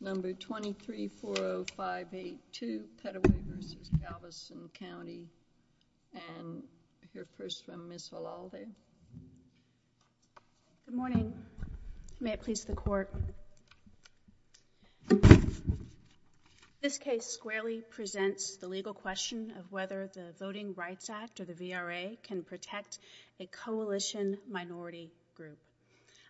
Number 2340582, Petteway v. Galveston County, and I hear first from Ms. Valalde. Good morning. May it please the court. This case squarely presents the legal question of whether the Voting Rights Act, or the VRA, can protect a coalition minority group.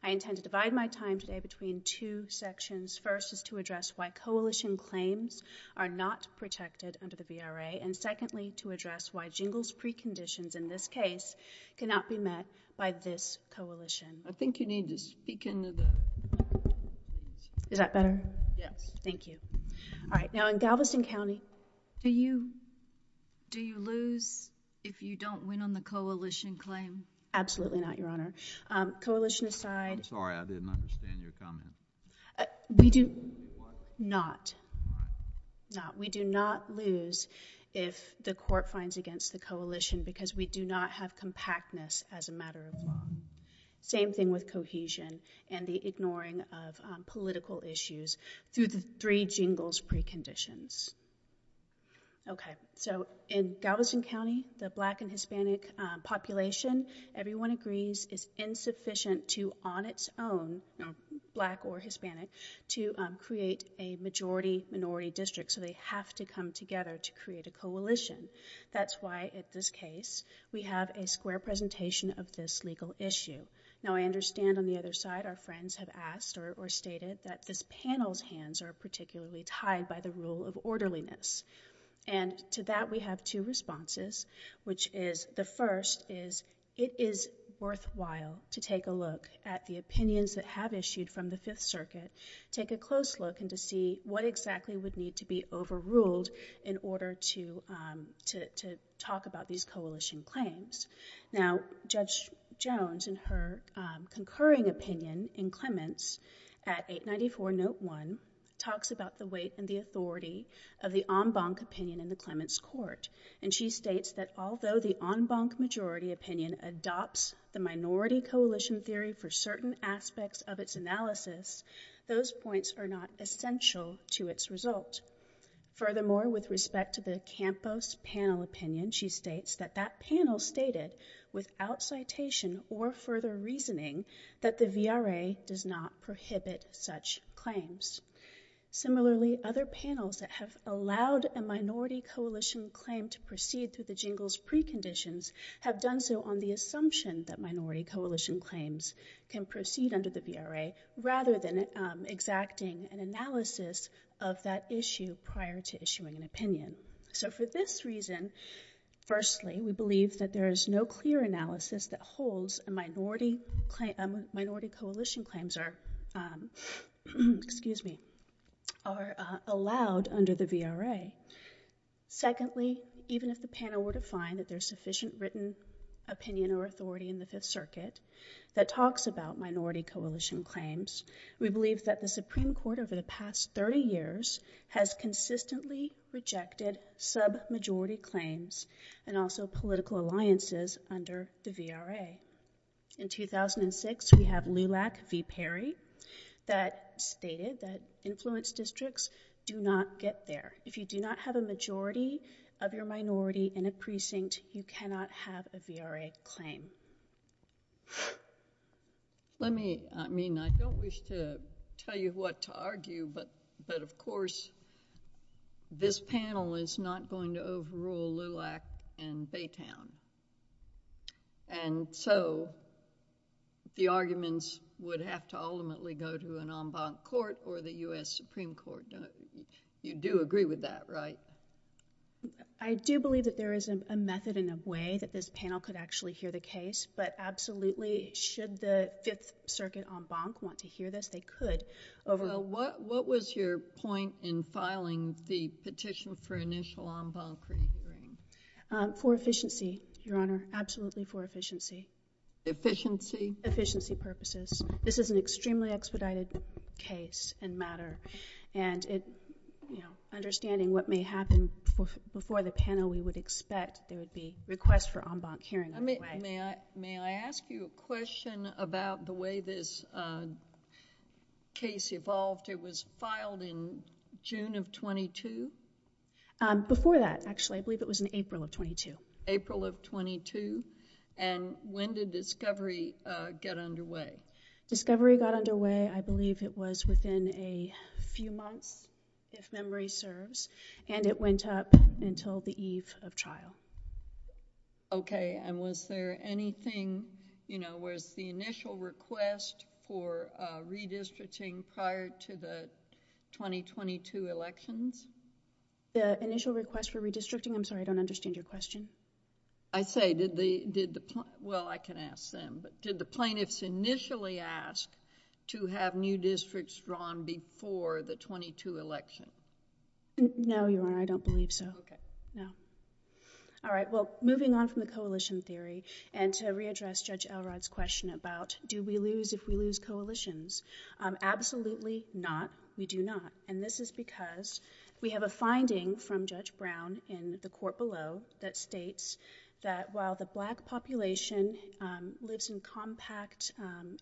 I intend to divide my time today between two sections. First is to address why coalition claims are not protected under the VRA, and secondly to address why Jingle's preconditions in this case cannot be met by this coalition. I think you need to speak into the microphone. Is that better? Yes. Thank you. All right, now in Galveston County. Do you lose if you don't win on the coalition claim? Absolutely not, Your Honor. Coalition aside— I'm sorry, I didn't understand your comment. We do— What? Not. Not. We do not lose if the court finds against the coalition because we do not have compactness as a matter of law. Same thing with cohesion and the ignoring of political issues through the three Jingle's preconditions. Okay, so in Galveston County, the black and Hispanic population, everyone agrees, is insufficient to, on its own, black or Hispanic, to create a majority-minority district, so they have to come together to create a coalition. That's why, in this case, we have a square presentation of this legal issue. Now, I understand on the other side, our friends have asked or stated that this panel's hands are particularly tied by the rule of orderliness. And to that, we have two responses, which is, the first is, it is worthwhile to take a look at the opinions that have issued from the Fifth Circuit, take a close look, and to see what exactly would need to be overruled in order to talk about these coalition claims. Now, Judge Jones, in her concurring opinion in Clements, at 894 Note 1, talks about the weight and the authority of the en banc opinion in the Clements court. And she states that, although the en banc majority opinion adopts the minority coalition theory for certain aspects of its analysis, those points are not essential to its result. Furthermore, with respect to the Campos panel opinion, she states that that panel stated, without citation or further reasoning, that the VRA does not prohibit such claims. Similarly, other panels that have allowed a minority coalition claim to proceed through the Jingles preconditions have done so on the assumption that minority coalition claims can proceed under the VRA, rather than exacting an analysis of that issue prior to issuing an opinion. So for this reason, firstly, we believe that there is no clear analysis that holds minority coalition claims are allowed under the VRA. Secondly, even if the panel were to find that there is sufficient written opinion or authority in the Fifth Circuit that talks about minority coalition claims, we believe that the Supreme Court over the past 30 years has consistently rejected sub-majority claims and also political alliances under the VRA. In 2006, we have Lulak v. Perry that stated that influence districts do not get there. If you do not have a majority of your minority in a precinct, you cannot have a VRA claim. Let me, I mean, I don't wish to tell you what to argue, but of course, this panel is not going to overrule Lulak and Baytown. And so, the arguments would have to ultimately go to an en banc court or the U.S. Supreme Court. You do agree with that, right? I do believe that there is a method and a way that this panel could actually hear the case, but absolutely, should the Fifth Circuit en banc want to hear this, they could. What was your point in filing the petition for initial en banc? For efficiency, Your Honor, absolutely for efficiency. Efficiency? Efficiency purposes. This is an extremely expedited case and matter, and understanding what may happen before the panel, we would expect there would be requests for en banc hearing. May I ask you a question about the way this case evolved? It was filed in June of 22? Before that, actually. I believe it was in April of 22. April of 22, and when did discovery get underway? Discovery got underway, I believe it was within a few months, if memory serves, and it went up until the eve of trial. Okay, and was there anything, you know, was the initial request for redistricting prior to the 2022 elections? The initial request for redistricting? I'm sorry, I don't understand your question. I say, did the... well, I can ask them, but did the plaintiffs initially ask to have new districts drawn before the 22 election? No, Your Honor, I don't believe so. Okay. No. All right, well, moving on from the coalition theory and to readdress Judge Elrod's question about do we lose if we lose coalitions, absolutely not, we do not. And this is because we have a finding from Judge Brown in the court below that states that while the black population lives in compact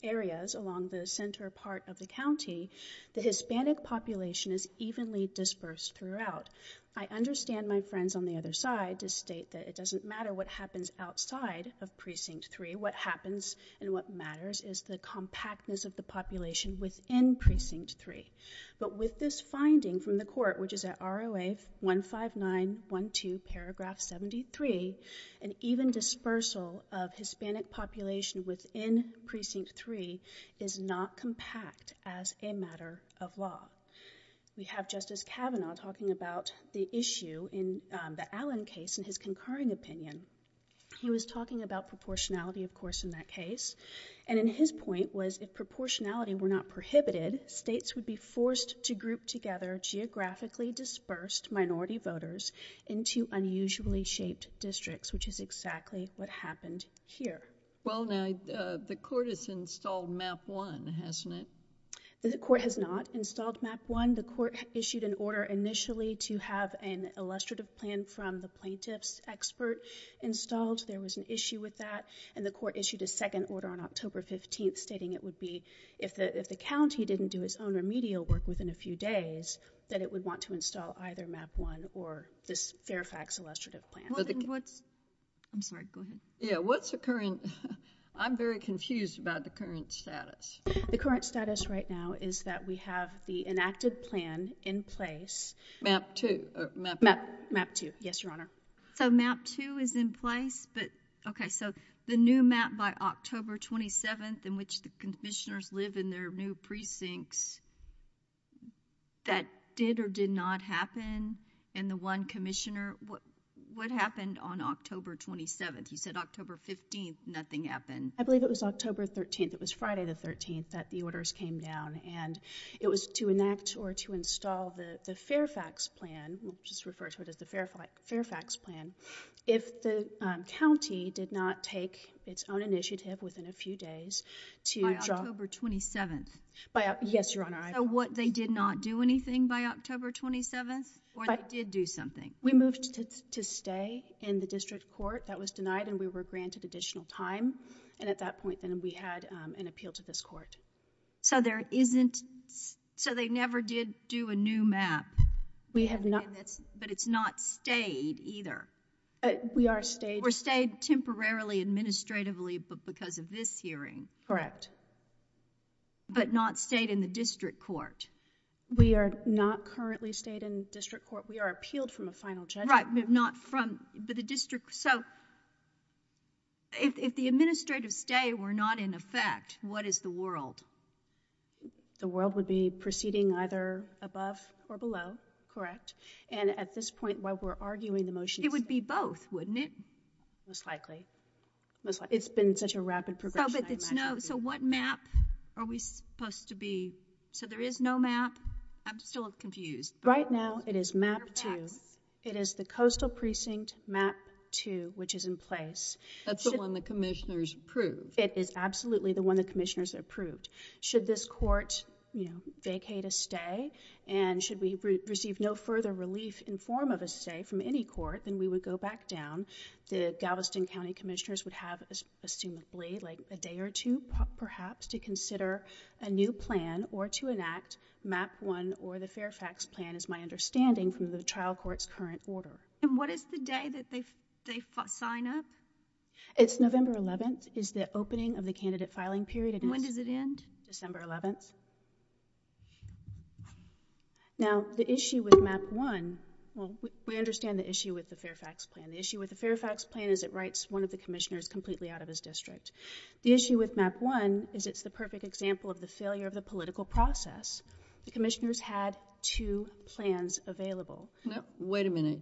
areas along the center part of the county, the Hispanic population is evenly dispersed throughout. I understand my friends on the other side to state that it doesn't matter what happens outside of Precinct 3. What happens and what matters is the compactness of the population within Precinct 3. But with this finding from the court, which is at ROA 15912 paragraph 73, an even dispersal of Hispanic population within Precinct 3 is not compact as a matter of law. We have Justice Kavanaugh talking about the issue in the Allen case and his concurring opinion. He was talking about proportionality, of course, in that case. And in his point was if proportionality were not prohibited, states would be forced to group together geographically dispersed minority voters into unusually shaped districts, which is exactly what happened here. Well, now, the court has installed Map 1, hasn't it? The court has not installed Map 1. The court issued an order initially to have an illustrative plan from the plaintiff's expert installed. There was an issue with that. And the court issued a second order on October 15th stating it would be if the county didn't do its own remedial work within a few days, that it would want to install either Map 1 or this Fairfax illustrative plan. I'm sorry, go ahead. Yeah, what's occurring? I'm very confused about the current status. The current status right now is that we have the enacted plan in place. Map 2? Map 2, yes, Your Honor. So Map 2 is in place? But, okay, so the new map by October 27th in which the commissioners live in their new precincts, that did or did not happen? And the one commissioner, what happened on October 27th? You said October 15th, nothing happened. I believe it was October 13th. It was Friday the 13th that the orders came down. And it was to enact or to install the Fairfax plan. We'll just refer to it as the Fairfax plan. If the county did not take its own initiative within a few days to draw— By October 27th? Yes, Your Honor. So what, they did not do anything by October 27th? Or they did do something? We moved to stay in the district court. That was denied and we were granted additional time. And at that point then we had an appeal to this court. So there isn't—so they never did do a new map? We have not— But it's not stayed either? We are stayed— We're stayed temporarily administratively because of this hearing? Correct. But not stayed in the district court? We are not currently stayed in the district court. We are appealed from a final judgment. Right, but not from the district. So if the administrative stay were not in effect, what is the world? The world would be proceeding either above or below. Correct. And at this point while we're arguing the motion— It would be both, wouldn't it? Most likely. Most likely. It's been such a rapid progression I imagine. So what map are we supposed to be—so there is no map? I'm still confused. Right now it is Map 2. It is the Coastal Precinct Map 2 which is in place. That's the one the commissioners approved? It is absolutely the one the commissioners approved. Should this court vacate a stay and should we receive no further relief in form of a stay from any court, then we would go back down. The Galveston County commissioners would have assumably like a day or two perhaps to consider a new plan or to enact Map 1 or the Fairfax Plan is my understanding from the trial court's current order. And what is the day that they sign up? It's November 11th is the opening of the candidate filing period. When does it end? December 11th. Now the issue with Map 1, we understand the issue with the Fairfax Plan. The issue with the Fairfax Plan is it writes one of the commissioners completely out of his district. The issue with Map 1 is it's the perfect example of the failure of the political process. The commissioners had two plans available. Wait a minute.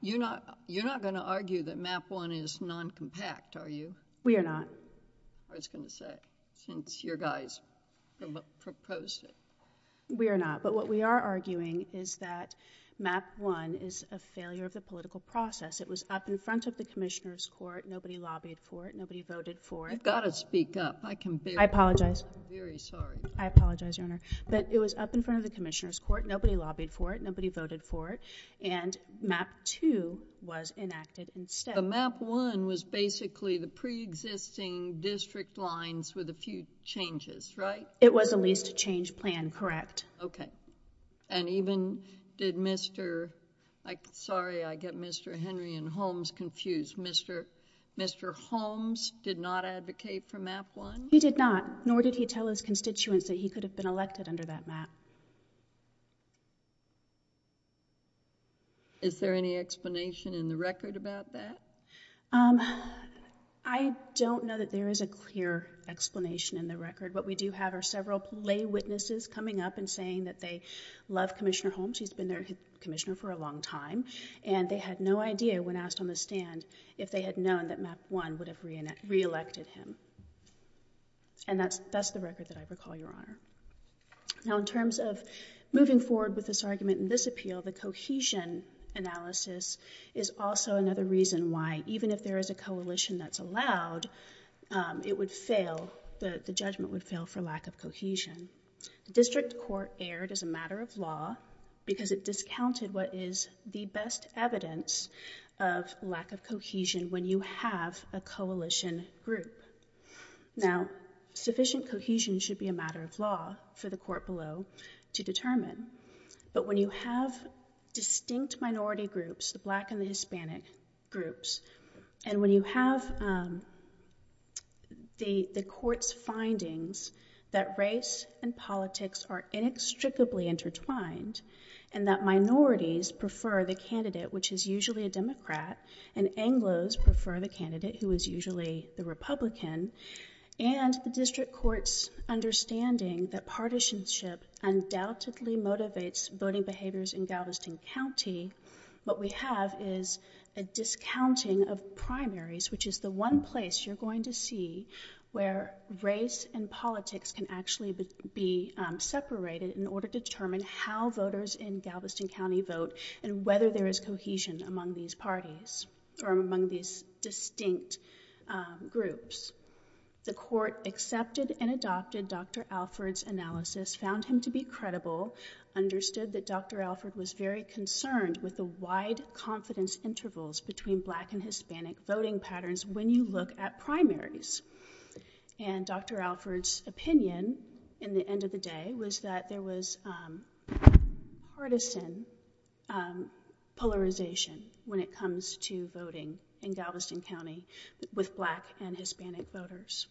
You're not going to argue that Map 1 is non-compact, are you? We are not. I was going to say since your guys proposed it. We are not. But what we are arguing is that Map 1 is a failure of the political process. It was up in front of the commissioners' court. Nobody lobbied for it. You've got to speak up. I can barely hear you. I apologize. I'm very sorry. I apologize, Your Honor. But it was up in front of the commissioners' court. Nobody lobbied for it. Nobody voted for it. And Map 2 was enacted instead. But Map 1 was basically the pre-existing district lines with a few changes, right? It was a leased change plan, correct. Okay. And even did Mr.... Sorry, I get Mr. Henry and Holmes confused. Mr. Holmes did not advocate for Map 1? He did not. Nor did he tell his constituents that he could have been elected under that map. Is there any explanation in the record about that? I don't know that there is a clear explanation in the record. What we do have are several lay witnesses coming up and saying that they love Commissioner Holmes. He's been their commissioner for a long time. And they had no idea when asked on the stand if they had known that Map 1 would have reelected him. And that's the record that I recall, Your Honor. Now, in terms of moving forward with this argument and this appeal, the cohesion analysis is also another reason why, even if there is a coalition that's allowed, it would fail, the judgment would fail, for lack of cohesion. The district court erred as a matter of law because it discounted what is the best evidence of lack of cohesion when you have a coalition group. Now, sufficient cohesion should be a matter of law for the court below to determine. But when you have distinct minority groups, the black and the Hispanic groups, and when you have the court's findings that race and politics are inextricably intertwined and that minorities prefer the candidate, which is usually a Democrat, and Anglos prefer the candidate, who is usually the Republican, and the district court's understanding that partisanship undoubtedly motivates voting behaviors in Galveston County, what we have is a discounting of primaries, which is the one place you're going to see where race and politics can actually be separated in order to determine how voters in Galveston County vote and whether there is cohesion among these parties or among these distinct groups. The court accepted and adopted Dr. Alford's analysis, found him to be credible, understood that Dr. Alford was very concerned with the wide confidence intervals between black and Hispanic voting patterns when you look at primaries. And Dr. Alford's opinion in the end of the day was that there was partisan polarization when it comes to voting in Galveston County with black and Hispanic voters.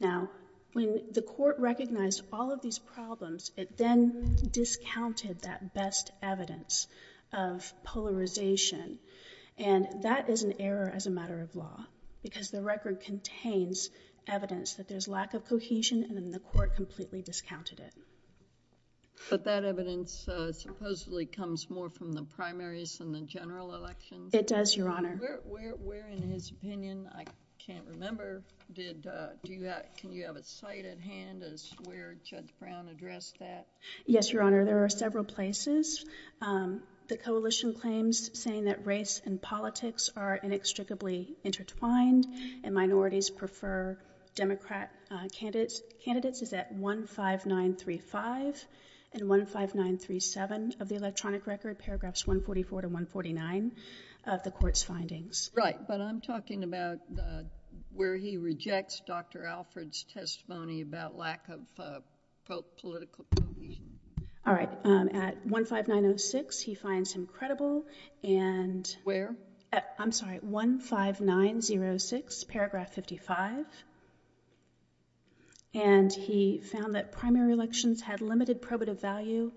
Now, when the court recognized all of these problems, it then discounted that best evidence of polarization, and that is an error as a matter of law because the record contains evidence that there's lack of cohesion and then the court completely discounted it. But that evidence supposedly comes more from the primaries than the general elections? It does, Your Honor. Where, in his opinion, I can't remember, can you have a cite at hand as to where Judge Brown addressed that? Yes, Your Honor. There are several places. The coalition claims saying that race and politics are inextricably intertwined and minorities prefer Democrat candidates is at 15935 and 15937 of the electronic record, paragraphs 144 to 149 of the court's findings. Right. But I'm talking about where he rejects Dr. Alford's testimony about lack of political cohesion. All right. At 15906, he finds him credible and— Where? I'm sorry, 15906, paragraph 55. And he found that primary elections had limited probative value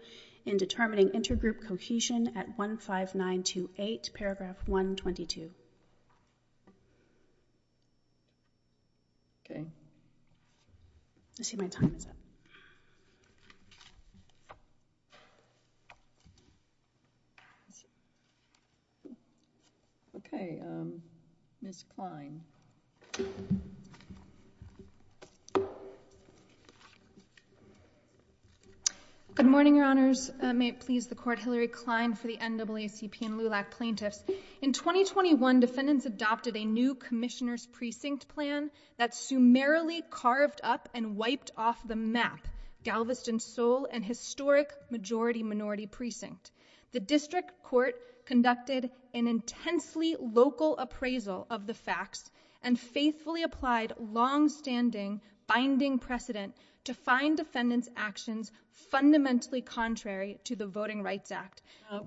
in determining intergroup cohesion at 15928, paragraph 122. Okay. Let's see, my time is up. Okay, Ms. Klein. Good morning, Your Honors. May it please the court, Hillary Klein for the NAACP and LULAC plaintiffs. In 2021, defendants adopted a new commissioner's precinct plan that summarily carved up and wiped off the map, Galveston, Seoul, and historic majority minority precinct. The district court conducted an intensely local appraisal of the facts and faithfully applied longstanding binding precedent to find defendants' actions fundamentally contrary to the Voting Rights Act.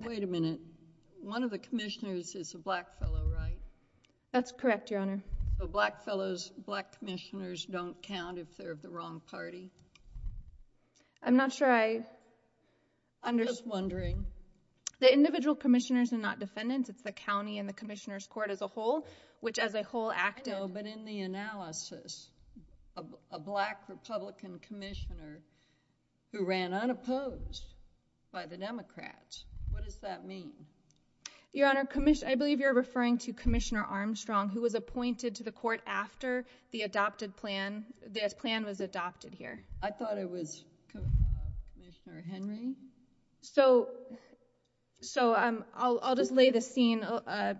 Wait a minute. One of the commissioners is a black fellow, right? That's correct, Your Honor. So black commissioners don't count if they're of the wrong party? I'm not sure I understand— I'm just wondering. The individual commissioners are not defendants. It's the county and the commissioner's court as a whole, which as a whole acted— I know, but in the analysis, a black Republican commissioner who ran unopposed by the Democrats. What does that mean? Your Honor, I believe you're referring to Commissioner Armstrong, who was appointed to the court after the plan was adopted here. I thought it was Commissioner Henry. So I'll just lay the scene,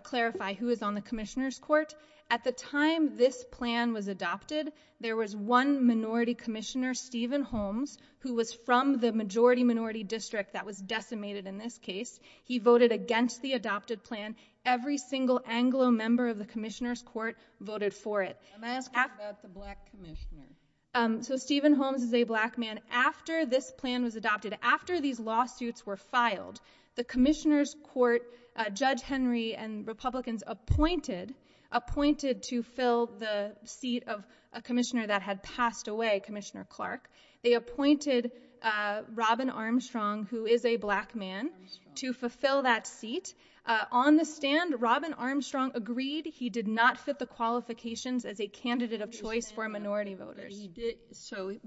clarify who is on the commissioner's court. At the time this plan was adopted, there was one minority commissioner, Stephen Holmes, who was from the majority minority district that was decimated in this case. He voted against the adopted plan. Every single Anglo member of the commissioner's court voted for it. I'm asking about the black commissioner. So Stephen Holmes is a black man. After this plan was adopted, after these lawsuits were filed, the commissioner's court, Judge Henry and Republicans appointed to fill the seat of a commissioner that had passed away, Commissioner Clark. They appointed Robin Armstrong, who is a black man, to fulfill that seat. On the stand, Robin Armstrong agreed. He did not fit the qualifications as a candidate of choice for minority voters.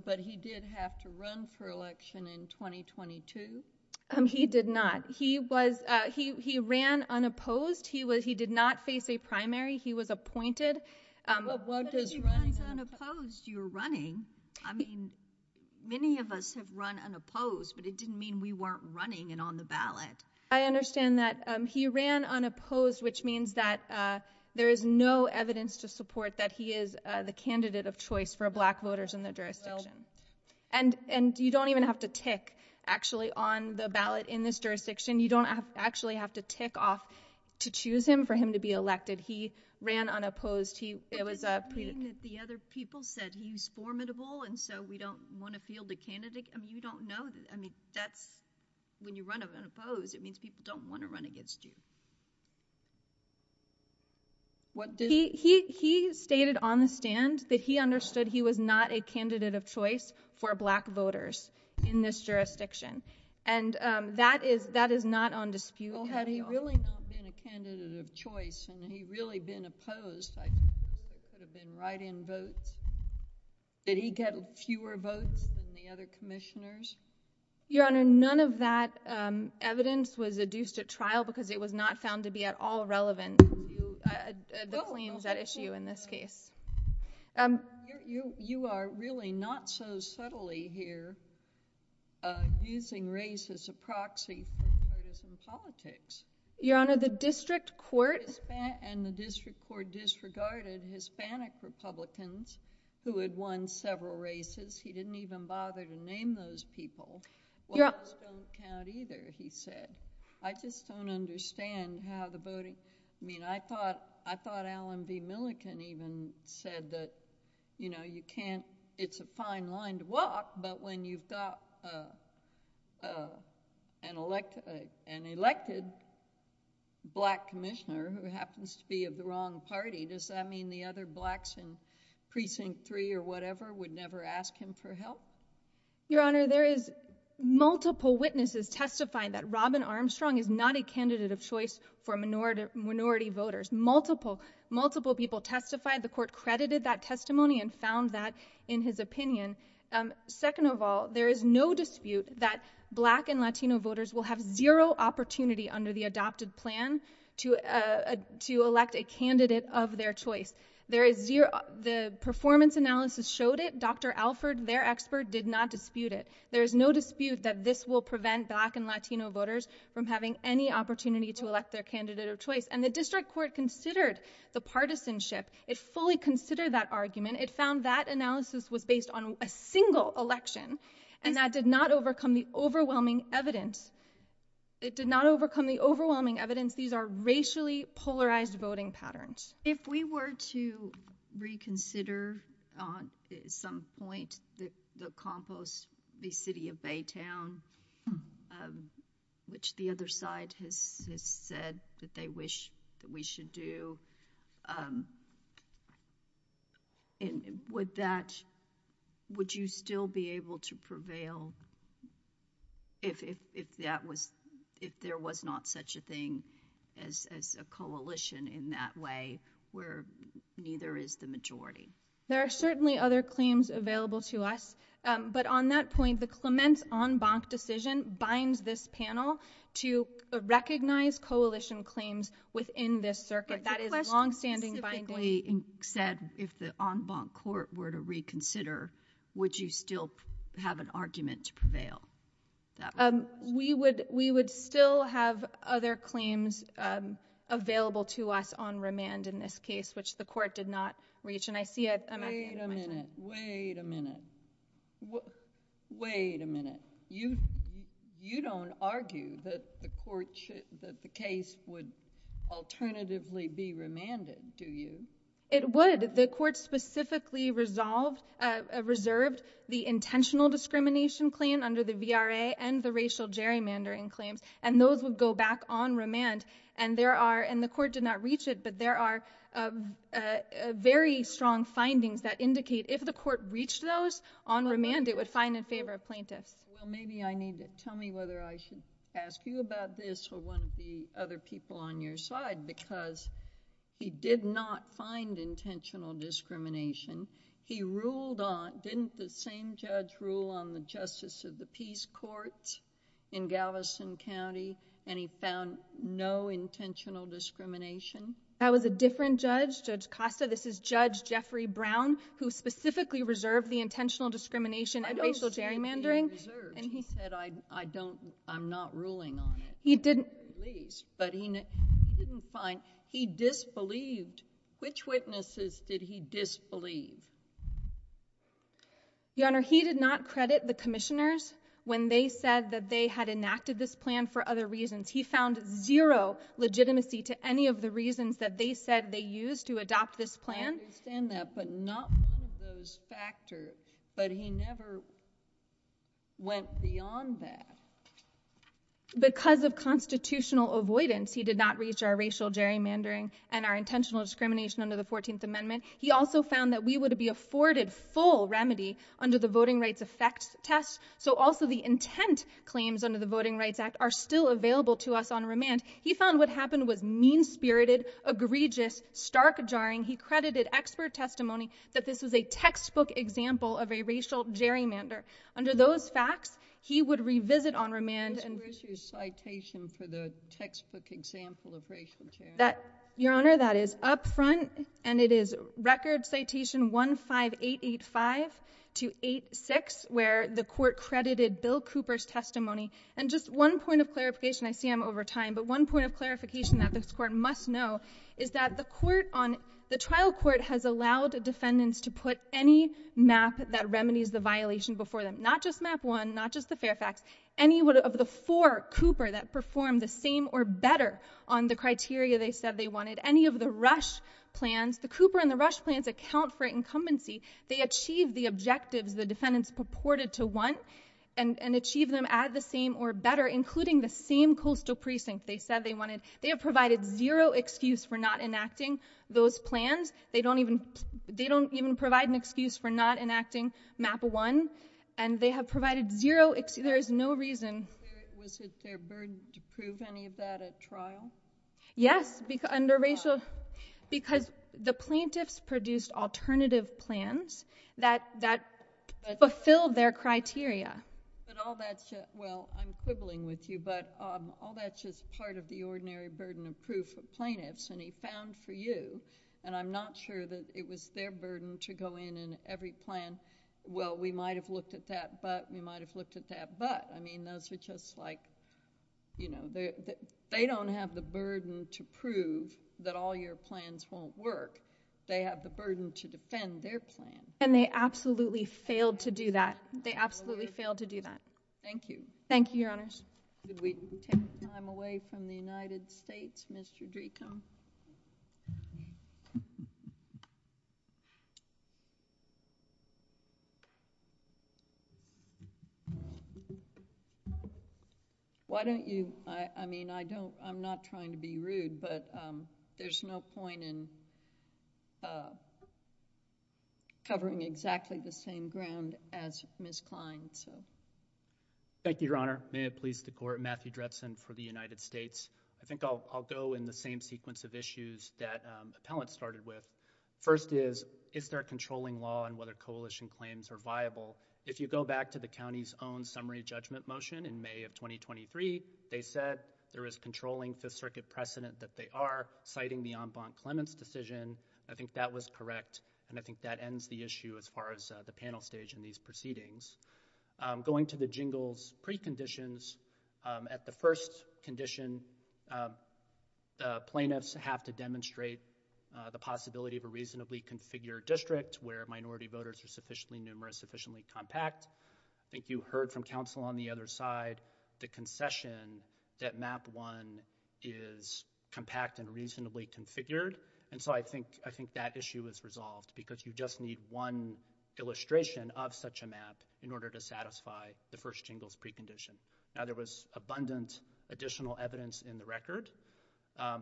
But he did have to run for election in 2022? He did not. He ran unopposed. He did not face a primary. He was appointed. But if he ran unopposed, you're running. I mean, many of us have run unopposed, but it didn't mean we weren't running and on the ballot. I understand that. He ran unopposed, which means that there is no evidence to support that he is the candidate of choice for black voters in the jurisdiction. And you don't even have to tick, actually, on the ballot in this jurisdiction. You don't actually have to tick off to choose him for him to be elected. He ran unopposed. What does that mean that the other people said he's formidable and so we don't want to field a candidate? I mean, when you run unopposed, it means people don't want to run against you. He stated on the stand that he understood he was not a candidate of choice for black voters in this jurisdiction. And that is not on dispute. Had he really not been a candidate of choice and he really been opposed, I believe it could have been write-in votes. Did he get fewer votes than the other commissioners? Your Honor, none of that evidence was adduced at trial because it was not found to be at all relevant, the claims at issue in this case. You are really not so subtly here using race as a proxy for partisan politics. Your Honor, the district court— —who had won several races, he didn't even bother to name those people. Yeah. Well, those don't count either, he said. I just don't understand how the voting—I mean, I thought Allen B. Milliken even said that, you know, you can't— it's a fine line to walk, but when you've got an elected black commissioner who happens to be of the wrong party, does that mean the other blacks in Precinct 3 or whatever would never ask him for help? Your Honor, there is multiple witnesses testifying that Robin Armstrong is not a candidate of choice for minority voters. Multiple, multiple people testified. The court credited that testimony and found that in his opinion. Second of all, there is no dispute that black and Latino voters will have zero opportunity under the adopted plan to elect a candidate of their choice. There is zero—the performance analysis showed it. Dr. Alford, their expert, did not dispute it. There is no dispute that this will prevent black and Latino voters from having any opportunity to elect their candidate of choice. And the district court considered the partisanship. It fully considered that argument. And it found that analysis was based on a single election, and that did not overcome the overwhelming evidence. It did not overcome the overwhelming evidence. These are racially polarized voting patterns. If we were to reconsider at some point the compost, the city of Baytown, which the other side has said that they wish that we should do, would that—would you still be able to prevail if that was—if there was not such a thing as a coalition in that way where neither is the majority? There are certainly other claims available to us. But on that point, the Clement's en banc decision binds this panel to recognize coalition claims within this circuit. The question specifically said if the en banc court were to reconsider, would you still have an argument to prevail? We would still have other claims available to us on remand in this case, which the court did not reach. And I see— Wait a minute. Wait a minute. Wait a minute. You don't argue that the court should—that the case would alternatively be remanded, do you? It would. The court specifically resolved—reserved the intentional discrimination claim under the VRA and the racial gerrymandering claims, and those would go back on remand. And there are—and the court did not reach it, but there are very strong findings that indicate if the court reached those on remand, it would find in favor of plaintiffs. Well, maybe I need to—tell me whether I should ask you about this or one of the other people on your side, because he did not find intentional discrimination. He ruled on—didn't the same judge rule on the justice of the peace courts in Galveston County, and he found no intentional discrimination? That was a different judge, Judge Costa. This is Judge Jeffrey Brown, who specifically reserved the intentional discrimination and racial gerrymandering. And he said, I don't—I'm not ruling on it. He didn't— At least. But he didn't find—he disbelieved. Which witnesses did he disbelieve? Your Honor, he did not credit the commissioners when they said that they had enacted this plan for other reasons. He found zero legitimacy to any of the reasons that they said they used to adopt this plan. I understand that, but not one of those factors. But he never went beyond that. Because of constitutional avoidance, he did not reach our racial gerrymandering and our intentional discrimination under the 14th Amendment. He also found that we would be afforded full remedy under the Voting Rights Effect test. So also the intent claims under the Voting Rights Act are still available to us on remand. He found what happened was mean-spirited, egregious, stark-jarring. He credited expert testimony that this was a textbook example of a racial gerrymander. Under those facts, he would revisit on remand— Where's your citation for the textbook example of racial gerrymandering? Your Honor, that is up front, and it is Record Citation 15885-86, where the Court credited Bill Cooper's testimony. And just one point of clarification—I see I'm over time—but one point of clarification that this Court must know is that the trial court has allowed defendants to put any map that remedies the violation before them. Not just Map 1, not just the Fairfax. Any of the four Cooper that perform the same or better on the criteria they said they wanted. Any of the Rush plans—the Cooper and the Rush plans account for incumbency. They achieve the objectives the defendants purported to want and achieve them at the same or better, including the same coastal precinct they said they wanted. They have provided zero excuse for not enacting those plans. They don't even provide an excuse for not enacting Map 1, and they have provided zero—there is no reason— Was it their burden to prove any of that at trial? Yes, under racial—because the plaintiffs produced alternative plans that fulfilled their criteria. But all that—well, I'm quibbling with you, but all that's just part of the ordinary burden of proof for plaintiffs. And he found for you, and I'm not sure that it was their burden to go in and every plan— well, we might have looked at that, but—we might have looked at that, but— I mean, those are just like, you know, they don't have the burden to prove that all your plans won't work. They have the burden to defend their plan. And they absolutely failed to do that. They absolutely failed to do that. Thank you. Thank you, Your Honors. Could we take time away from the United States, Mr. Dreecombe? Why don't you—I mean, I don't—I'm not trying to be rude, but there's no point in covering exactly the same ground as Ms. Klein. Thank you, Your Honor. May it please the Court. Matthew Drebsen for the United States. I think I'll go in the same sequence of issues that appellants started with. First is, is there a controlling law on whether coalition claims are viable? If you go back to the county's own summary judgment motion in May of 2023, they said there is controlling Fifth Circuit precedent that they are citing the en banc clements decision. I think that was correct, and I think that ends the issue as far as the panel stage in these proceedings. Going to the Jingles preconditions, at the first condition, plaintiffs have to demonstrate the possibility of a reasonably configured district where minority voters are sufficiently numerous, sufficiently compact. I think you heard from counsel on the other side the concession that Map 1 is compact and reasonably configured. And so I think that issue is resolved because you just need one illustration of such a map in order to satisfy the first Jingles precondition. Now, there was abundant additional evidence in the record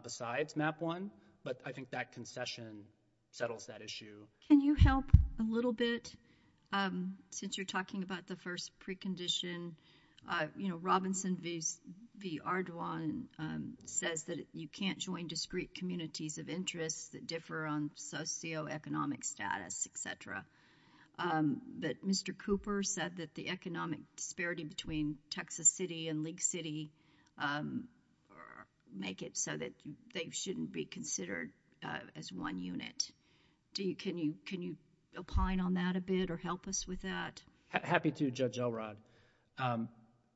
besides Map 1, but I think that concession settles that issue. Can you help a little bit? Since you're talking about the first precondition, Robinson v. Ardoin says that you can't join discrete communities of interest that differ on socioeconomic status, etc. But Mr. Cooper said that the economic disparity between Texas City and League City make it so that they shouldn't be considered as one unit. Can you opine on that a bit or help us with that? Happy to, Judge Elrod.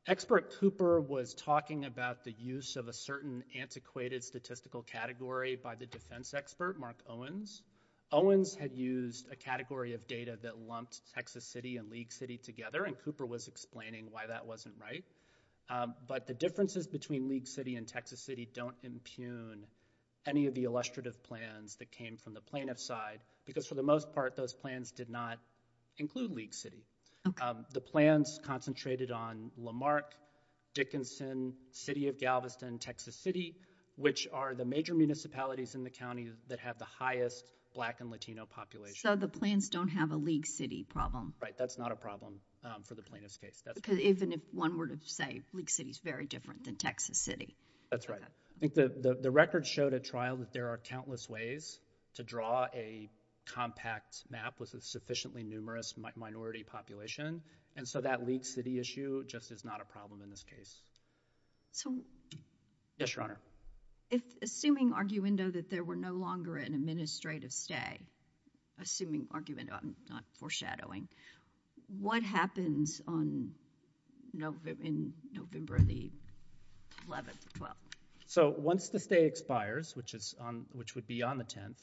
Expert Cooper was talking about the use of a certain antiquated statistical category by the defense expert, Mark Owens. Owens had used a category of data that lumped Texas City and League City together, and Cooper was explaining why that wasn't right. But the differences between League City and Texas City don't impugn any of the illustrative plans that came from the plaintiff's side, because for the most part, those plans did not include League City. The plans concentrated on Lamarck, Dickinson, City of Galveston, Texas City, which are the major municipalities in the county that have the highest black and Latino population. So the plans don't have a League City problem. Right, that's not a problem for the plaintiff's case. Because even if one were to say League City is very different than Texas City. That's right. I think the record showed at trial that there are countless ways to draw a compact map with a sufficiently numerous minority population, and so that League City issue just is not a problem in this case. So... Yes, Your Honor. Assuming arguendo that there were no longer an administrative stay, assuming arguendo, not foreshadowing, what happens in November the 11th or 12th? So once the stay expires, which would be on the 10th,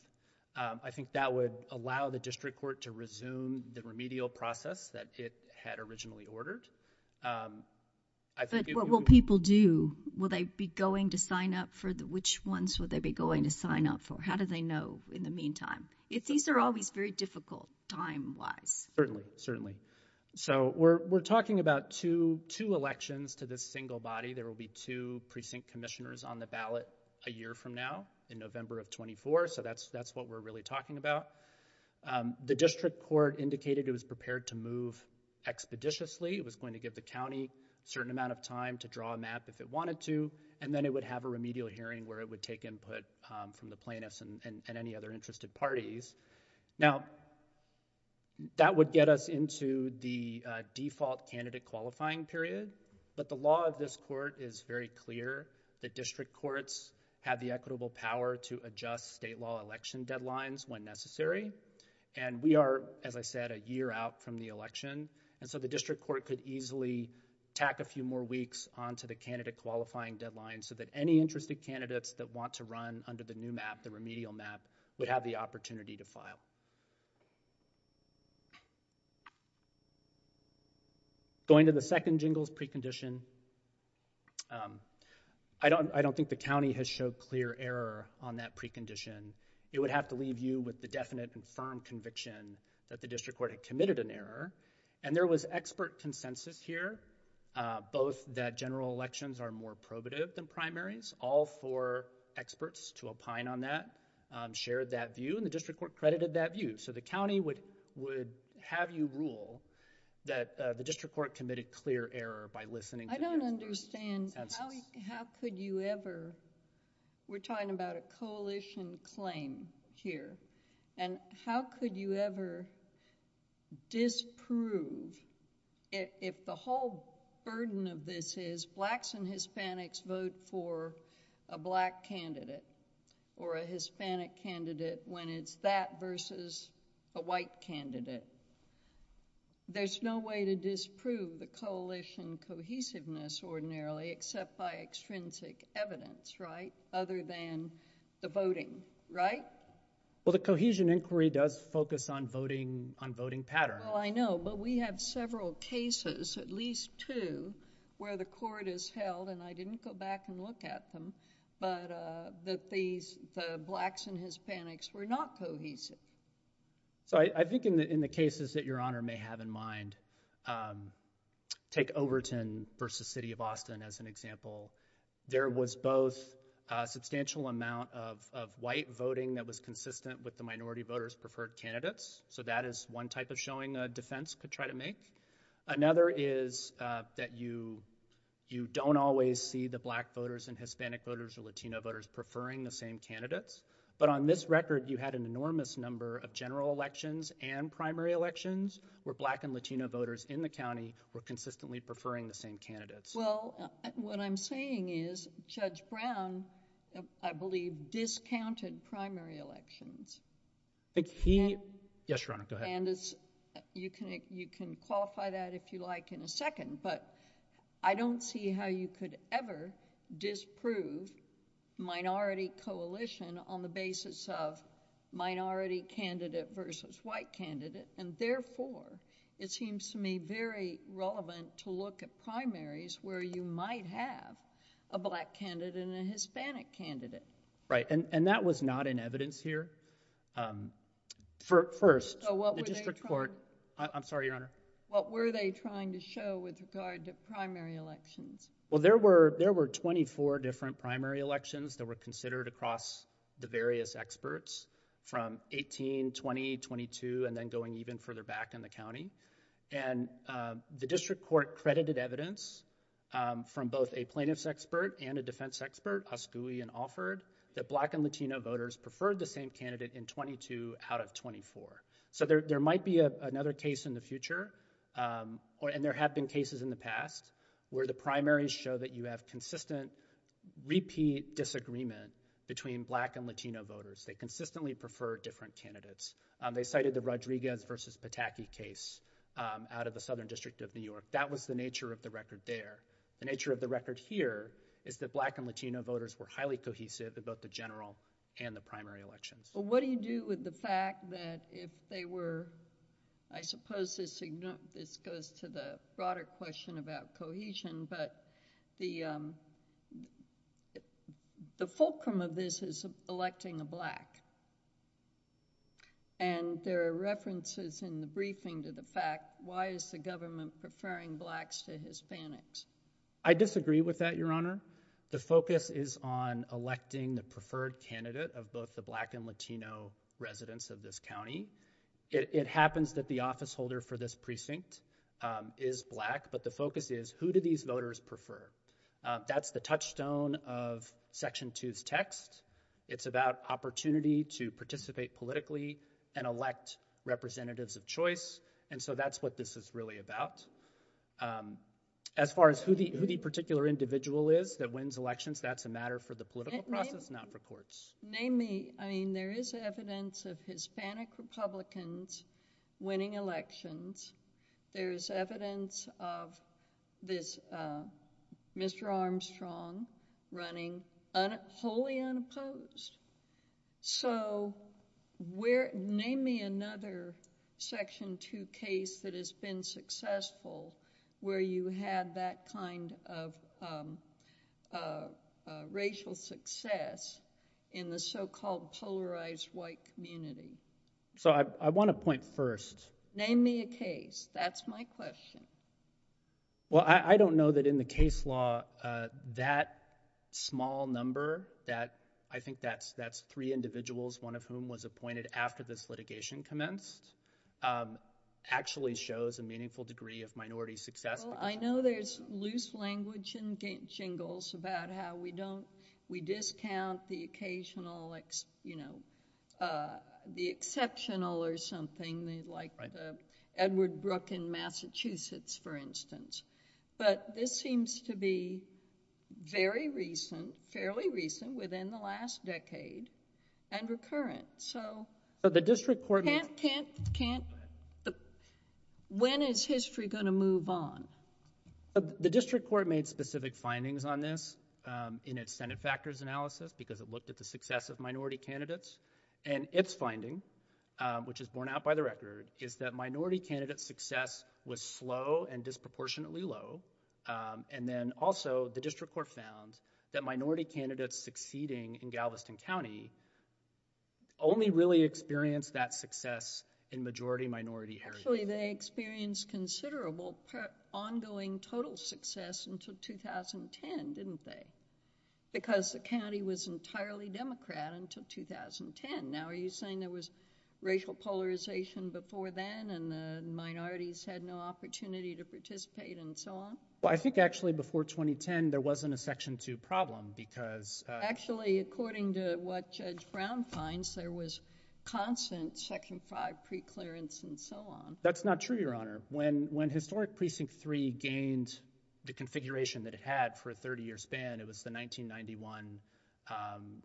I think that would allow the district court to resume the remedial process that it had originally ordered. But what will people do? Will they be going to sign up for the... Which ones will they be going to sign up for? How do they know in the meantime? These are always very difficult time-wise. Certainly, certainly. So we're talking about two elections to this single body. There will be two precinct commissioners on the ballot a year from now in November of 24. So that's what we're really talking about. The district court indicated it was prepared to move expeditiously. It was going to give the county a certain amount of time to draw a map if it wanted to, and then it would have a remedial hearing where it would take input from the plaintiffs and any other interested parties. Now, that would get us into the default candidate qualifying period. But the law of this court is very clear. The district courts have the equitable power to adjust state law election deadlines when necessary. And we are, as I said, a year out from the election. And so the district court could easily tack a few more weeks onto the candidate qualifying deadline so that any interested candidates that want to run under the new map, the remedial map, would have the opportunity to file. Going to the second Jingles precondition, I don't think the county has showed clear error on that precondition. It would have to leave you with the definite and firm conviction that the district court had committed an error. And there was expert consensus here, both that general elections are more probative than primaries, all four experts to opine on that shared that view, and the district court credited that view. So the county would have you rule that the district court committed clear error by listening... I don't understand. How could you ever... If the whole burden of this is blacks and Hispanics vote for a black candidate or a Hispanic candidate, when it's that versus a white candidate, there's no way to disprove the coalition cohesiveness ordinarily, except by extrinsic evidence, right, other than the voting, right? Well, the cohesion inquiry does focus on voting pattern. Well, I know, but we have several cases, at least two, where the court has held, and I didn't go back and look at them, but that the blacks and Hispanics were not cohesive. So I think in the cases that Your Honor may have in mind, take Overton versus City of Austin as an example. There was both a substantial amount of white voting that was consistent with the minority voters' preferred candidates. So that is one type of showing a defense could try to make. Another is that you don't always see the black voters and Hispanic voters or Latino voters preferring the same candidates. But on this record, you had an enormous number of general elections and primary elections where black and Latino voters in the county were consistently preferring the same candidates. Well, what I'm saying is Judge Brown, I believe, discounted primary elections. Yes, Your Honor, go ahead. And you can qualify that if you like in a second, but I don't see how you could ever disprove minority coalition on the basis of minority candidate versus white candidate. And therefore, it seems to me very relevant to look at primaries where you might have a black candidate and a Hispanic candidate. Right, and that was not in evidence here. First, the district court... I'm sorry, Your Honor. What were they trying to show with regard to primary elections? Well, there were twenty-four different primary elections that were considered across the various experts from 18, 20, 22, and then going even further back in the county. And the district court credited evidence from both a plaintiff's expert and a defense expert, Asgui and Alford, that black and Latino voters preferred the same candidate in 22 out of 24. So, there might be another case in the future, and there have been cases in the past, where the primaries show that you have consistent repeat disagreement between black and Latino voters. They consistently prefer different candidates. They cited the Rodriguez versus Pataki case out of the Southern District of New York. That was the nature of the record there. The nature of the record here is that black and Latino voters were highly cohesive in both the general and the primary elections. Well, what do you do with the fact that if they were... I suppose this goes to the broader question about cohesion, but the fulcrum of this is electing a black. And there are references in the briefing to the fact, why is the government preferring blacks to Hispanics? I disagree with that, Your Honor. The focus is on electing the preferred candidate of both the black and Latino residents of this county. It happens that the office holder for this precinct is black, but the focus is, who do these voters prefer? It's about opportunity to participate politically and elect representatives of choice, and so that's what this is really about. As far as who the particular individual is that wins elections, that's a matter for the political process, not for courts. Name me. I mean, there is evidence of Hispanic Republicans winning elections. There is evidence of this Mr. Armstrong running wholly unopposed. So, name me another Section 2 case that has been successful where you had that kind of racial success in the so-called polarized white community. So, I want to point first... Name me a case. That's my question. Well, I don't know that in the case law that small number that... I think that's three individuals, one of whom was appointed after this litigation commenced, actually shows a meaningful degree of minority success. Well, I know there's loose language and jingles about how we don't... we discount the occasional, you know, the exceptional or something like the Edward Brook in Massachusetts, for instance. But, this seems to be very recent, fairly recent within the last decade, and recurrent. So, the district court... I can't, can't... Go ahead. When is history going to move on? The district court made specific findings on this in its Senate factors analysis because it looked at the success of minority candidates. And, its finding, which is borne out by the record, is that minority candidate success was slow and disproportionately low. And then, also, the district court found that minority candidates succeeding in Galveston County only really experienced that success in majority minority heritage. Actually, they experienced considerable ongoing total success until 2010, didn't they? Because the county was entirely Democrat until 2010. Now, are you saying there was racial polarization before then and the minorities had no opportunity to participate and so on? Well, I think, actually, before 2010, there wasn't a Section 2 problem because... Actually, according to what Judge Brown finds, there was constant Section 5 preclearance and so on. That's not true, Your Honor. When Historic Precinct 3 gained the configuration that it had for a 30-year span, it was the 1991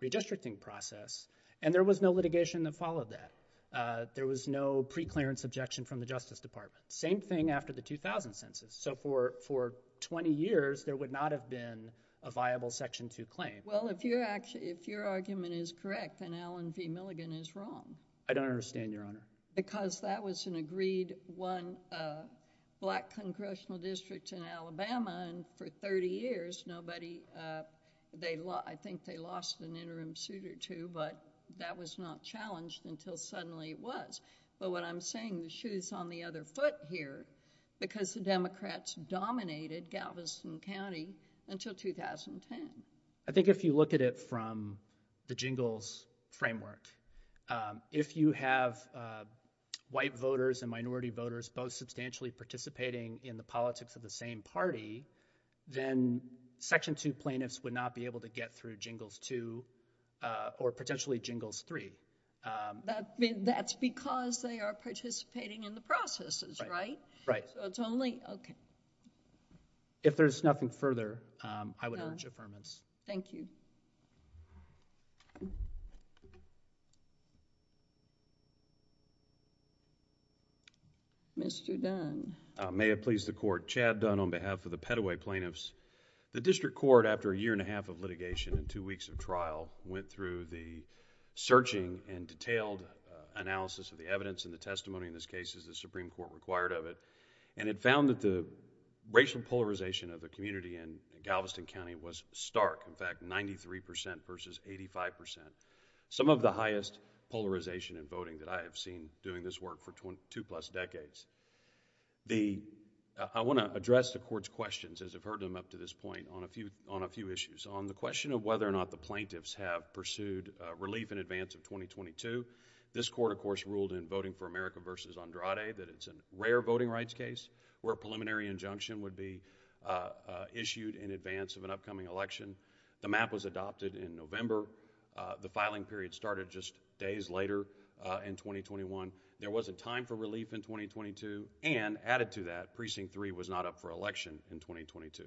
redistricting process. And, there was no litigation that followed that. There was no preclearance objection from the Justice Department. Same thing after the 2000 Census. So, for 20 years, there would not have been a viable Section 2 claim. Well, if your argument is correct, then Alan V. Milligan is wrong. I don't understand, Your Honor. Because that was an agreed, one black congressional district in Alabama. And, for 30 years, nobody... I think they lost an interim suit or two, but that was not challenged until suddenly it was. But, what I'm saying, the shoe's on the other foot here because the Democrats dominated Galveston County until 2010. I think if you look at it from the Jingles framework, if you have white voters and minority voters both substantially participating in the politics of the same party, then Section 2 plaintiffs would not be able to get through Jingles 2 or potentially Jingles 3. That's because they are participating in the processes, right? Right. So, it's only... okay. If there's nothing further, I would urge affirmance. Thank you. Mr. Dunn. May it please the Court. Chad Dunn on behalf of the Petaway Plaintiffs. The district court, after a year and a half of litigation and two weeks of trial, went through the searching and detailed analysis of the evidence and the testimony in this case as the Supreme Court required of it. And, it found that the racial polarization of the community in Galveston County was stark. In fact, 93% versus 85%. Some of the highest polarization in voting that I have seen doing this work for two plus decades. I want to address the Court's questions, as I've heard them up to this point, on a few issues. On the question of whether or not the plaintiffs have pursued relief in advance of 2022, this Court, of course, ruled in Voting for America v. Andrade that it's a rare voting rights case where a preliminary injunction would be issued in advance of an upcoming election. The map was adopted in November. The filing period started just days later in 2021. There wasn't time for relief in 2022. And, added to that, Precinct 3 was not up for election in 2022.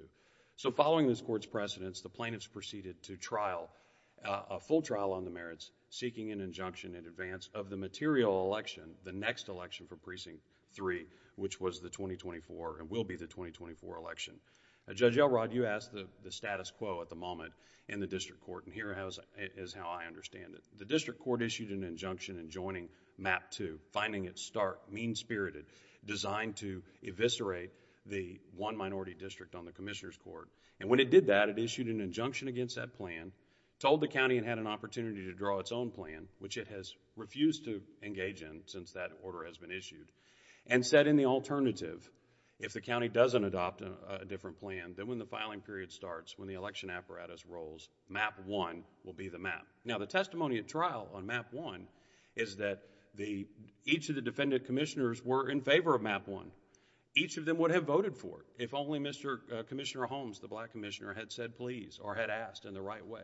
So, following this Court's precedence, the plaintiffs proceeded to trial, a full trial on the merits, seeking an injunction in advance of the material election, the next election for Precinct 3, which was the 2024 and will be the 2024 election. Judge Elrod, you asked the status quo at the moment in the district court, and here is how I understand it. The district court issued an injunction in joining Map 2, finding it stark, mean-spirited, designed to eviscerate the one minority district on the Commissioner's Court. And when it did that, it issued an injunction against that plan, told the county it had an opportunity to draw its own plan, which it has refused to engage in since that order has been issued, and said in the alternative, if the county doesn't adopt a different plan, then when the filing period starts, when the election apparatus rolls, Map 1 will be the map. Now, the testimony at trial on Map 1 is that each of the defendant commissioners were in favor of Map 1. Each of them would have voted for it if only Mr. Commissioner Holmes, the black commissioner, had said please or had asked in the right way.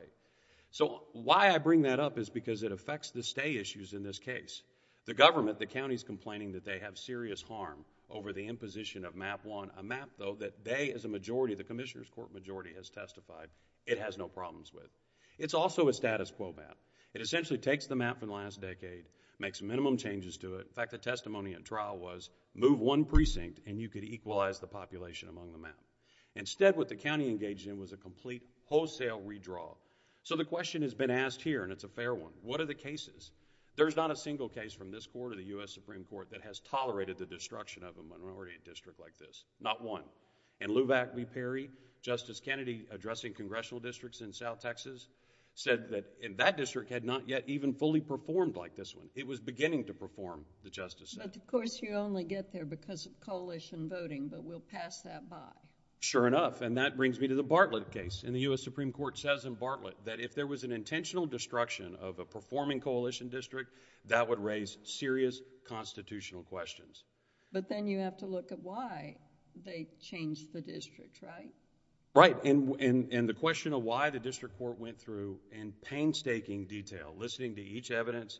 So, why I bring that up is because it affects the stay issues in this case. The government, the county, is complaining that they have serious harm over the imposition of Map 1, a map, though, that they as a majority, the Commissioner's Court majority, has testified it has no problems with. It's also a status quo map. It essentially takes the map from the last decade, makes minimum changes to it. In fact, the testimony at trial was, move one precinct and you could equalize the population among the map. Instead, what the county engaged in was a complete wholesale redraw. So, the question has been asked here, and it's a fair one, what are the cases? There's not a single case from this court or the U.S. Supreme Court that has tolerated the destruction of a minority district like this, not one. In Lovack v. Perry, Justice Kennedy, addressing congressional districts in South Texas, said that that district had not yet even fully performed like this one. It was beginning to perform, the Justice said. But, of course, you only get there because of coalition voting, but we'll pass that by. Sure enough, and that brings me to the Bartlett case. The U.S. Supreme Court says in Bartlett that if there was an intentional destruction of a performing coalition district, that would raise serious constitutional questions. But then, you have to look at why they changed the district, right? Right, and the question of why the district court went through in painstaking detail, listening to each evidence,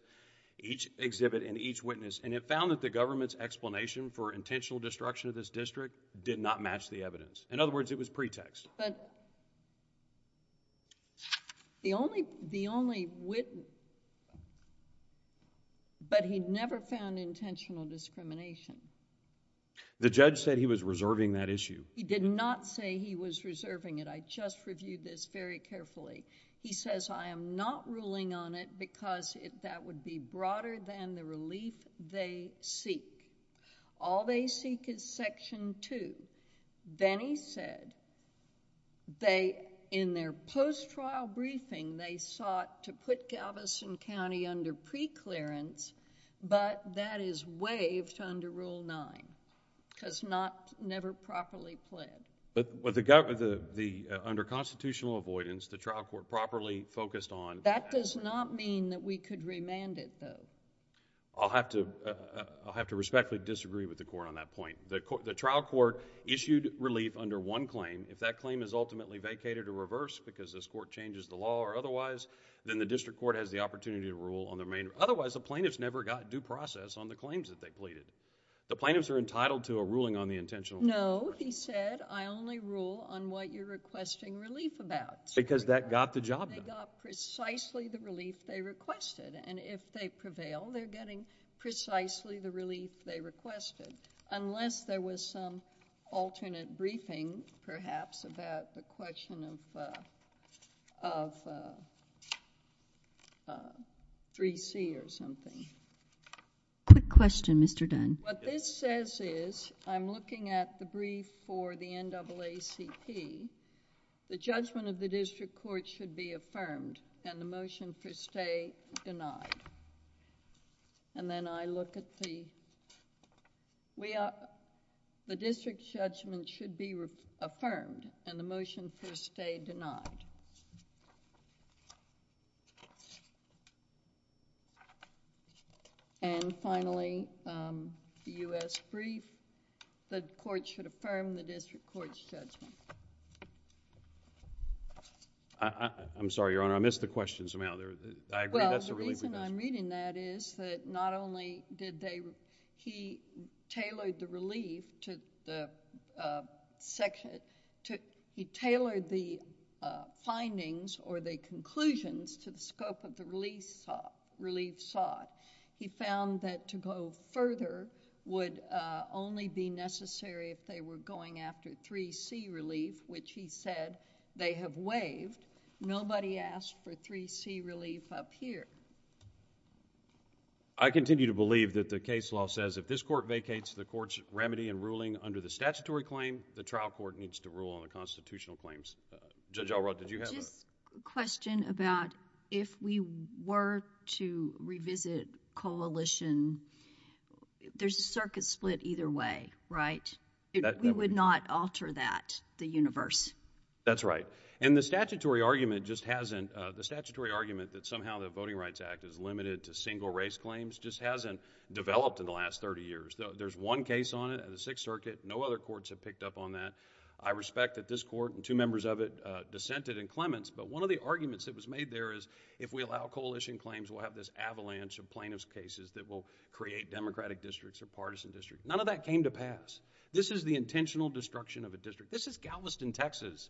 each exhibit, and each witness, and it found that the government's explanation for intentional destruction of this district did not match the evidence. In other words, it was pretext. But, he never found intentional discrimination. The judge said he was reserving that issue. He did not say he was reserving it. I just reviewed this very carefully. He says, I am not ruling on it because that would be broader than the relief they seek. All they seek is Section 2. Then, he said, in their post-trial briefing, they sought to put Galveston County under preclearance, but that is waived under Rule 9 because never properly pled. Under constitutional avoidance, the trial court properly focused on... That does not mean that we could remand it, though. I'll have to respectfully disagree with the court on that point. The trial court issued relief under one claim. If that claim is ultimately vacated or reversed because this court changes the law or otherwise, then the district court has the opportunity to rule on their main... Otherwise, the plaintiffs never got due process on the claims that they pleaded. The plaintiffs are entitled to a ruling on the intentional... No, he said, I only rule on what you're requesting relief about. Because that got the job done. They got precisely the relief they requested, and if they prevail, they're getting precisely the relief they requested, unless there was some alternate briefing, perhaps, about the question of 3C or something. Quick question, Mr. Dunn. What this says is, I'm looking at the brief for the NAACP. The judgment of the district court should be affirmed, and the motion for stay denied. Then I look at the... The district judgment should be affirmed, and the motion for stay denied. And finally, the U.S. brief, the court should affirm the district court's judgment. I'm sorry, Your Honor. I missed the question somehow. I agree, that's a relief... or the conclusions to the scope of the relief sought. He found that to go further would only be necessary if they were going after 3C relief, which he said they have waived. Nobody asked for 3C relief up here. I continue to believe that the case law says if this court vacates the court's remedy and ruling under the statutory claim, the trial court needs to rule on the constitutional claims. Judge Alrod, did you have a... Just a question about if we were to revisit coalition, there's a circuit split either way, right? We would not alter that, the universe. That's right. And the statutory argument just hasn't... The statutory argument that somehow the Voting Rights Act is limited to single race claims just hasn't developed in the last 30 years. There's one case on it at the Sixth Circuit. No other courts have picked up on that. I respect that this court and two members of it dissented in Clements, but one of the arguments that was made there is if we allow coalition claims, we'll have this avalanche of plaintiff's cases that will create Democratic districts or partisan districts. None of that came to pass. This is the intentional destruction of a district. This is Galveston, Texas,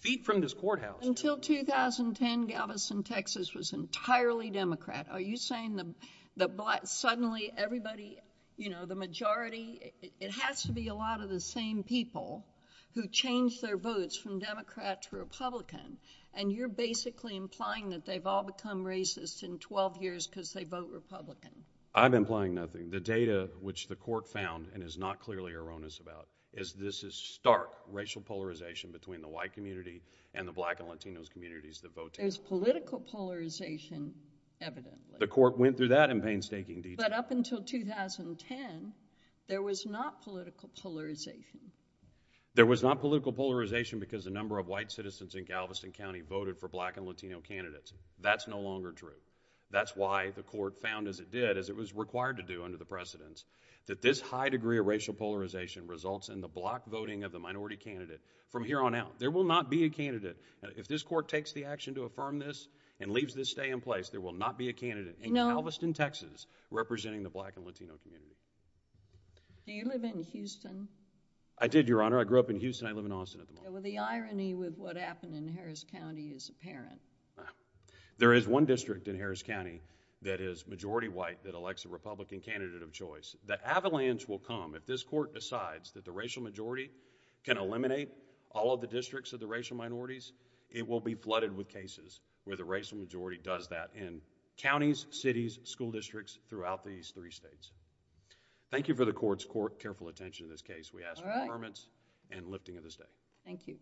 feet from this courthouse. Until 2010, Galveston, Texas was entirely Democrat. Are you saying that suddenly everybody, you know, the majority... It has to be a lot of the same people who changed their votes from Democrat to Republican, and you're basically implying that they've all become racist in 12 years because they vote Republican. I'm implying nothing. The data which the court found and is not clearly erroneous about is this is stark racial polarization between the white community and the black and Latino communities that vote. There's political polarization evidently. The court went through that in painstaking detail. But up until 2010, there was not political polarization. There was not political polarization because the number of white citizens in Galveston County voted for black and Latino candidates. That's no longer true. That's why the court found, as it did, as it was required to do under the precedents, that this high degree of racial polarization results in the block voting of the minority candidate from here on out. There will not be a candidate. If this court takes the action to affirm this and leaves this stay in place, there will not be a candidate in Galveston, Texas... No.... representing the black and Latino community. Do you live in Houston? I did, Your Honor. I grew up in Houston. I live in Austin at the moment. Well, the irony with what happened in Harris County is apparent. There is one district in Harris County that is majority white that elects a Republican candidate of choice. The avalanche will come if this court decides that the racial majority can eliminate all of the districts of the racial minorities. It will be flooded with cases where the racial majority does that in counties, cities, school districts throughout these three states. Thank you for the court's careful attention in this case. We ask for affirmance and lifting of the stay. Thank you.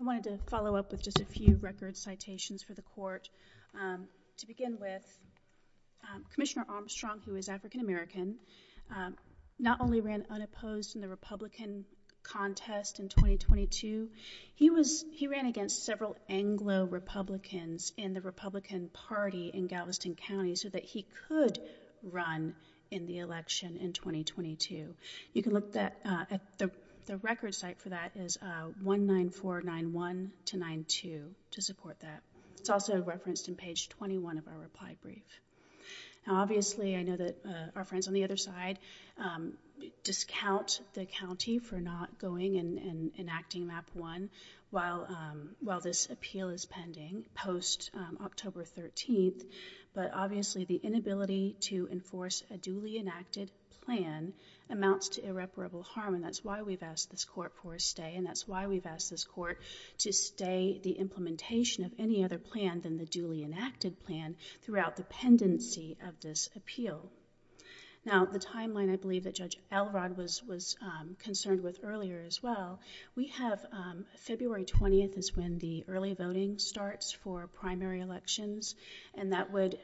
I wanted to follow up with just a few record citations for the court. To begin with, Commissioner Armstrong, who is African-American, not only ran unopposed in the Republican contest in 2022, he ran against several Anglo-Republicans in the Republican Party in Galveston County so that he could run in the election in 2022. You can look at the record site for that. It's 19491-92 to support that. It's also referenced in page 21 of our reply brief. Now, obviously, I know that our friends on the other side discount the county for not going and enacting Map 1 while this appeal is pending post-October 13th. But obviously, the inability to enforce a duly enacted plan amounts to irreparable harm. And that's why we've asked this court for a stay. And that's why we've asked this court to stay the implementation of any other plan than the duly enacted plan throughout the pendency of this appeal. Now, the timeline I believe that Judge Elrod was concerned with earlier as well, we have February 20th is when the early voting starts for primary elections. And that would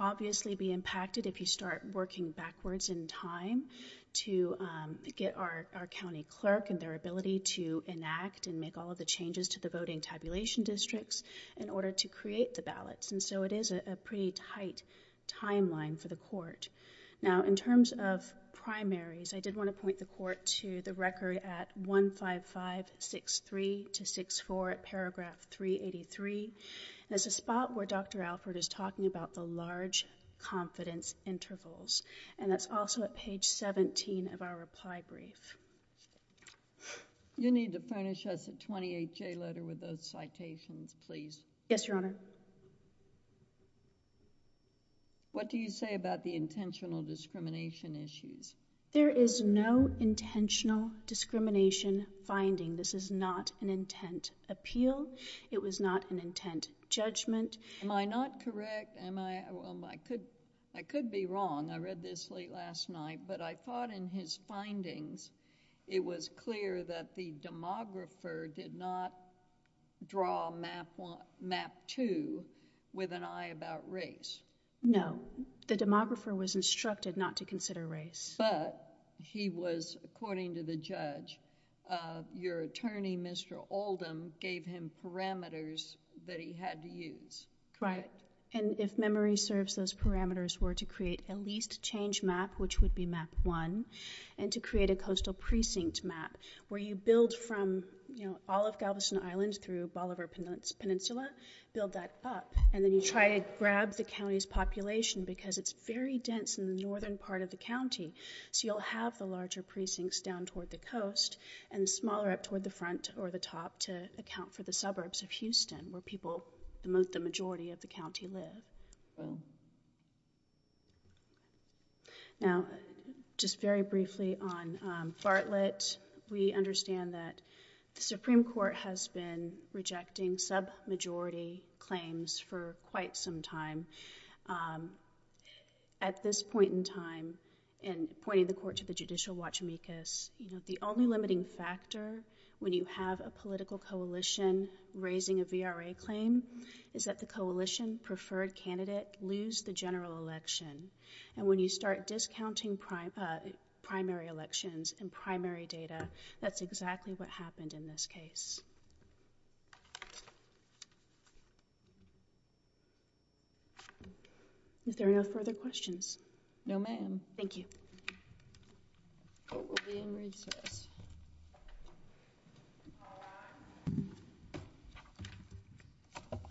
obviously be impacted if you start working backwards in time to get our county clerk and their ability to enact and make all of the changes to the voting tabulation districts in order to create the ballots. And so it is a pretty tight timeline for the court. Now, in terms of primaries, I did want to point the court to the record at 15563-64 at paragraph 383. And it's a spot where Dr. Alford is talking about the large confidence intervals. And that's also at page 17 of our reply brief. You need to furnish us a 28-J letter with those citations, please. Yes, Your Honor. What do you say about the intentional discrimination issues? There is no intentional discrimination finding. This is not an intent appeal. It was not an intent judgment. Am I not correct? I could be wrong. I read this late last night. But I thought in his findings, it was clear that the demographer did not draw Map 2 with an eye about race. No. The demographer was instructed not to consider race. But he was, according to the judge, your attorney, Mr. Oldham, gave him parameters that he had to use. Right. And if memory serves, those parameters were to create a least change map, which would be Map 1, and to create a coastal precinct map, where you build from, you know, all of Galveston Island through Bolivar Peninsula, build that up. And then you try to grab the county's population, because it's very dense in the northern part of the county. So you'll have the larger precincts down toward the coast and smaller up toward the front or the top to account for the suburbs of Houston, where people, the majority of the county, live. Now, just very briefly on Bartlett, we understand that the Supreme Court has been rejecting sub-majority claims for quite some time. At this point in time, in pointing the court to the judicial watchmaches, you know, the only limiting factor when you have a political coalition raising a VRA claim is that the coalition preferred candidate lose the general election. And when you start discounting primary elections and primary data, that's exactly what happened in this case. Is there no further questions? No, ma'am. Thank you. Court will be in recess.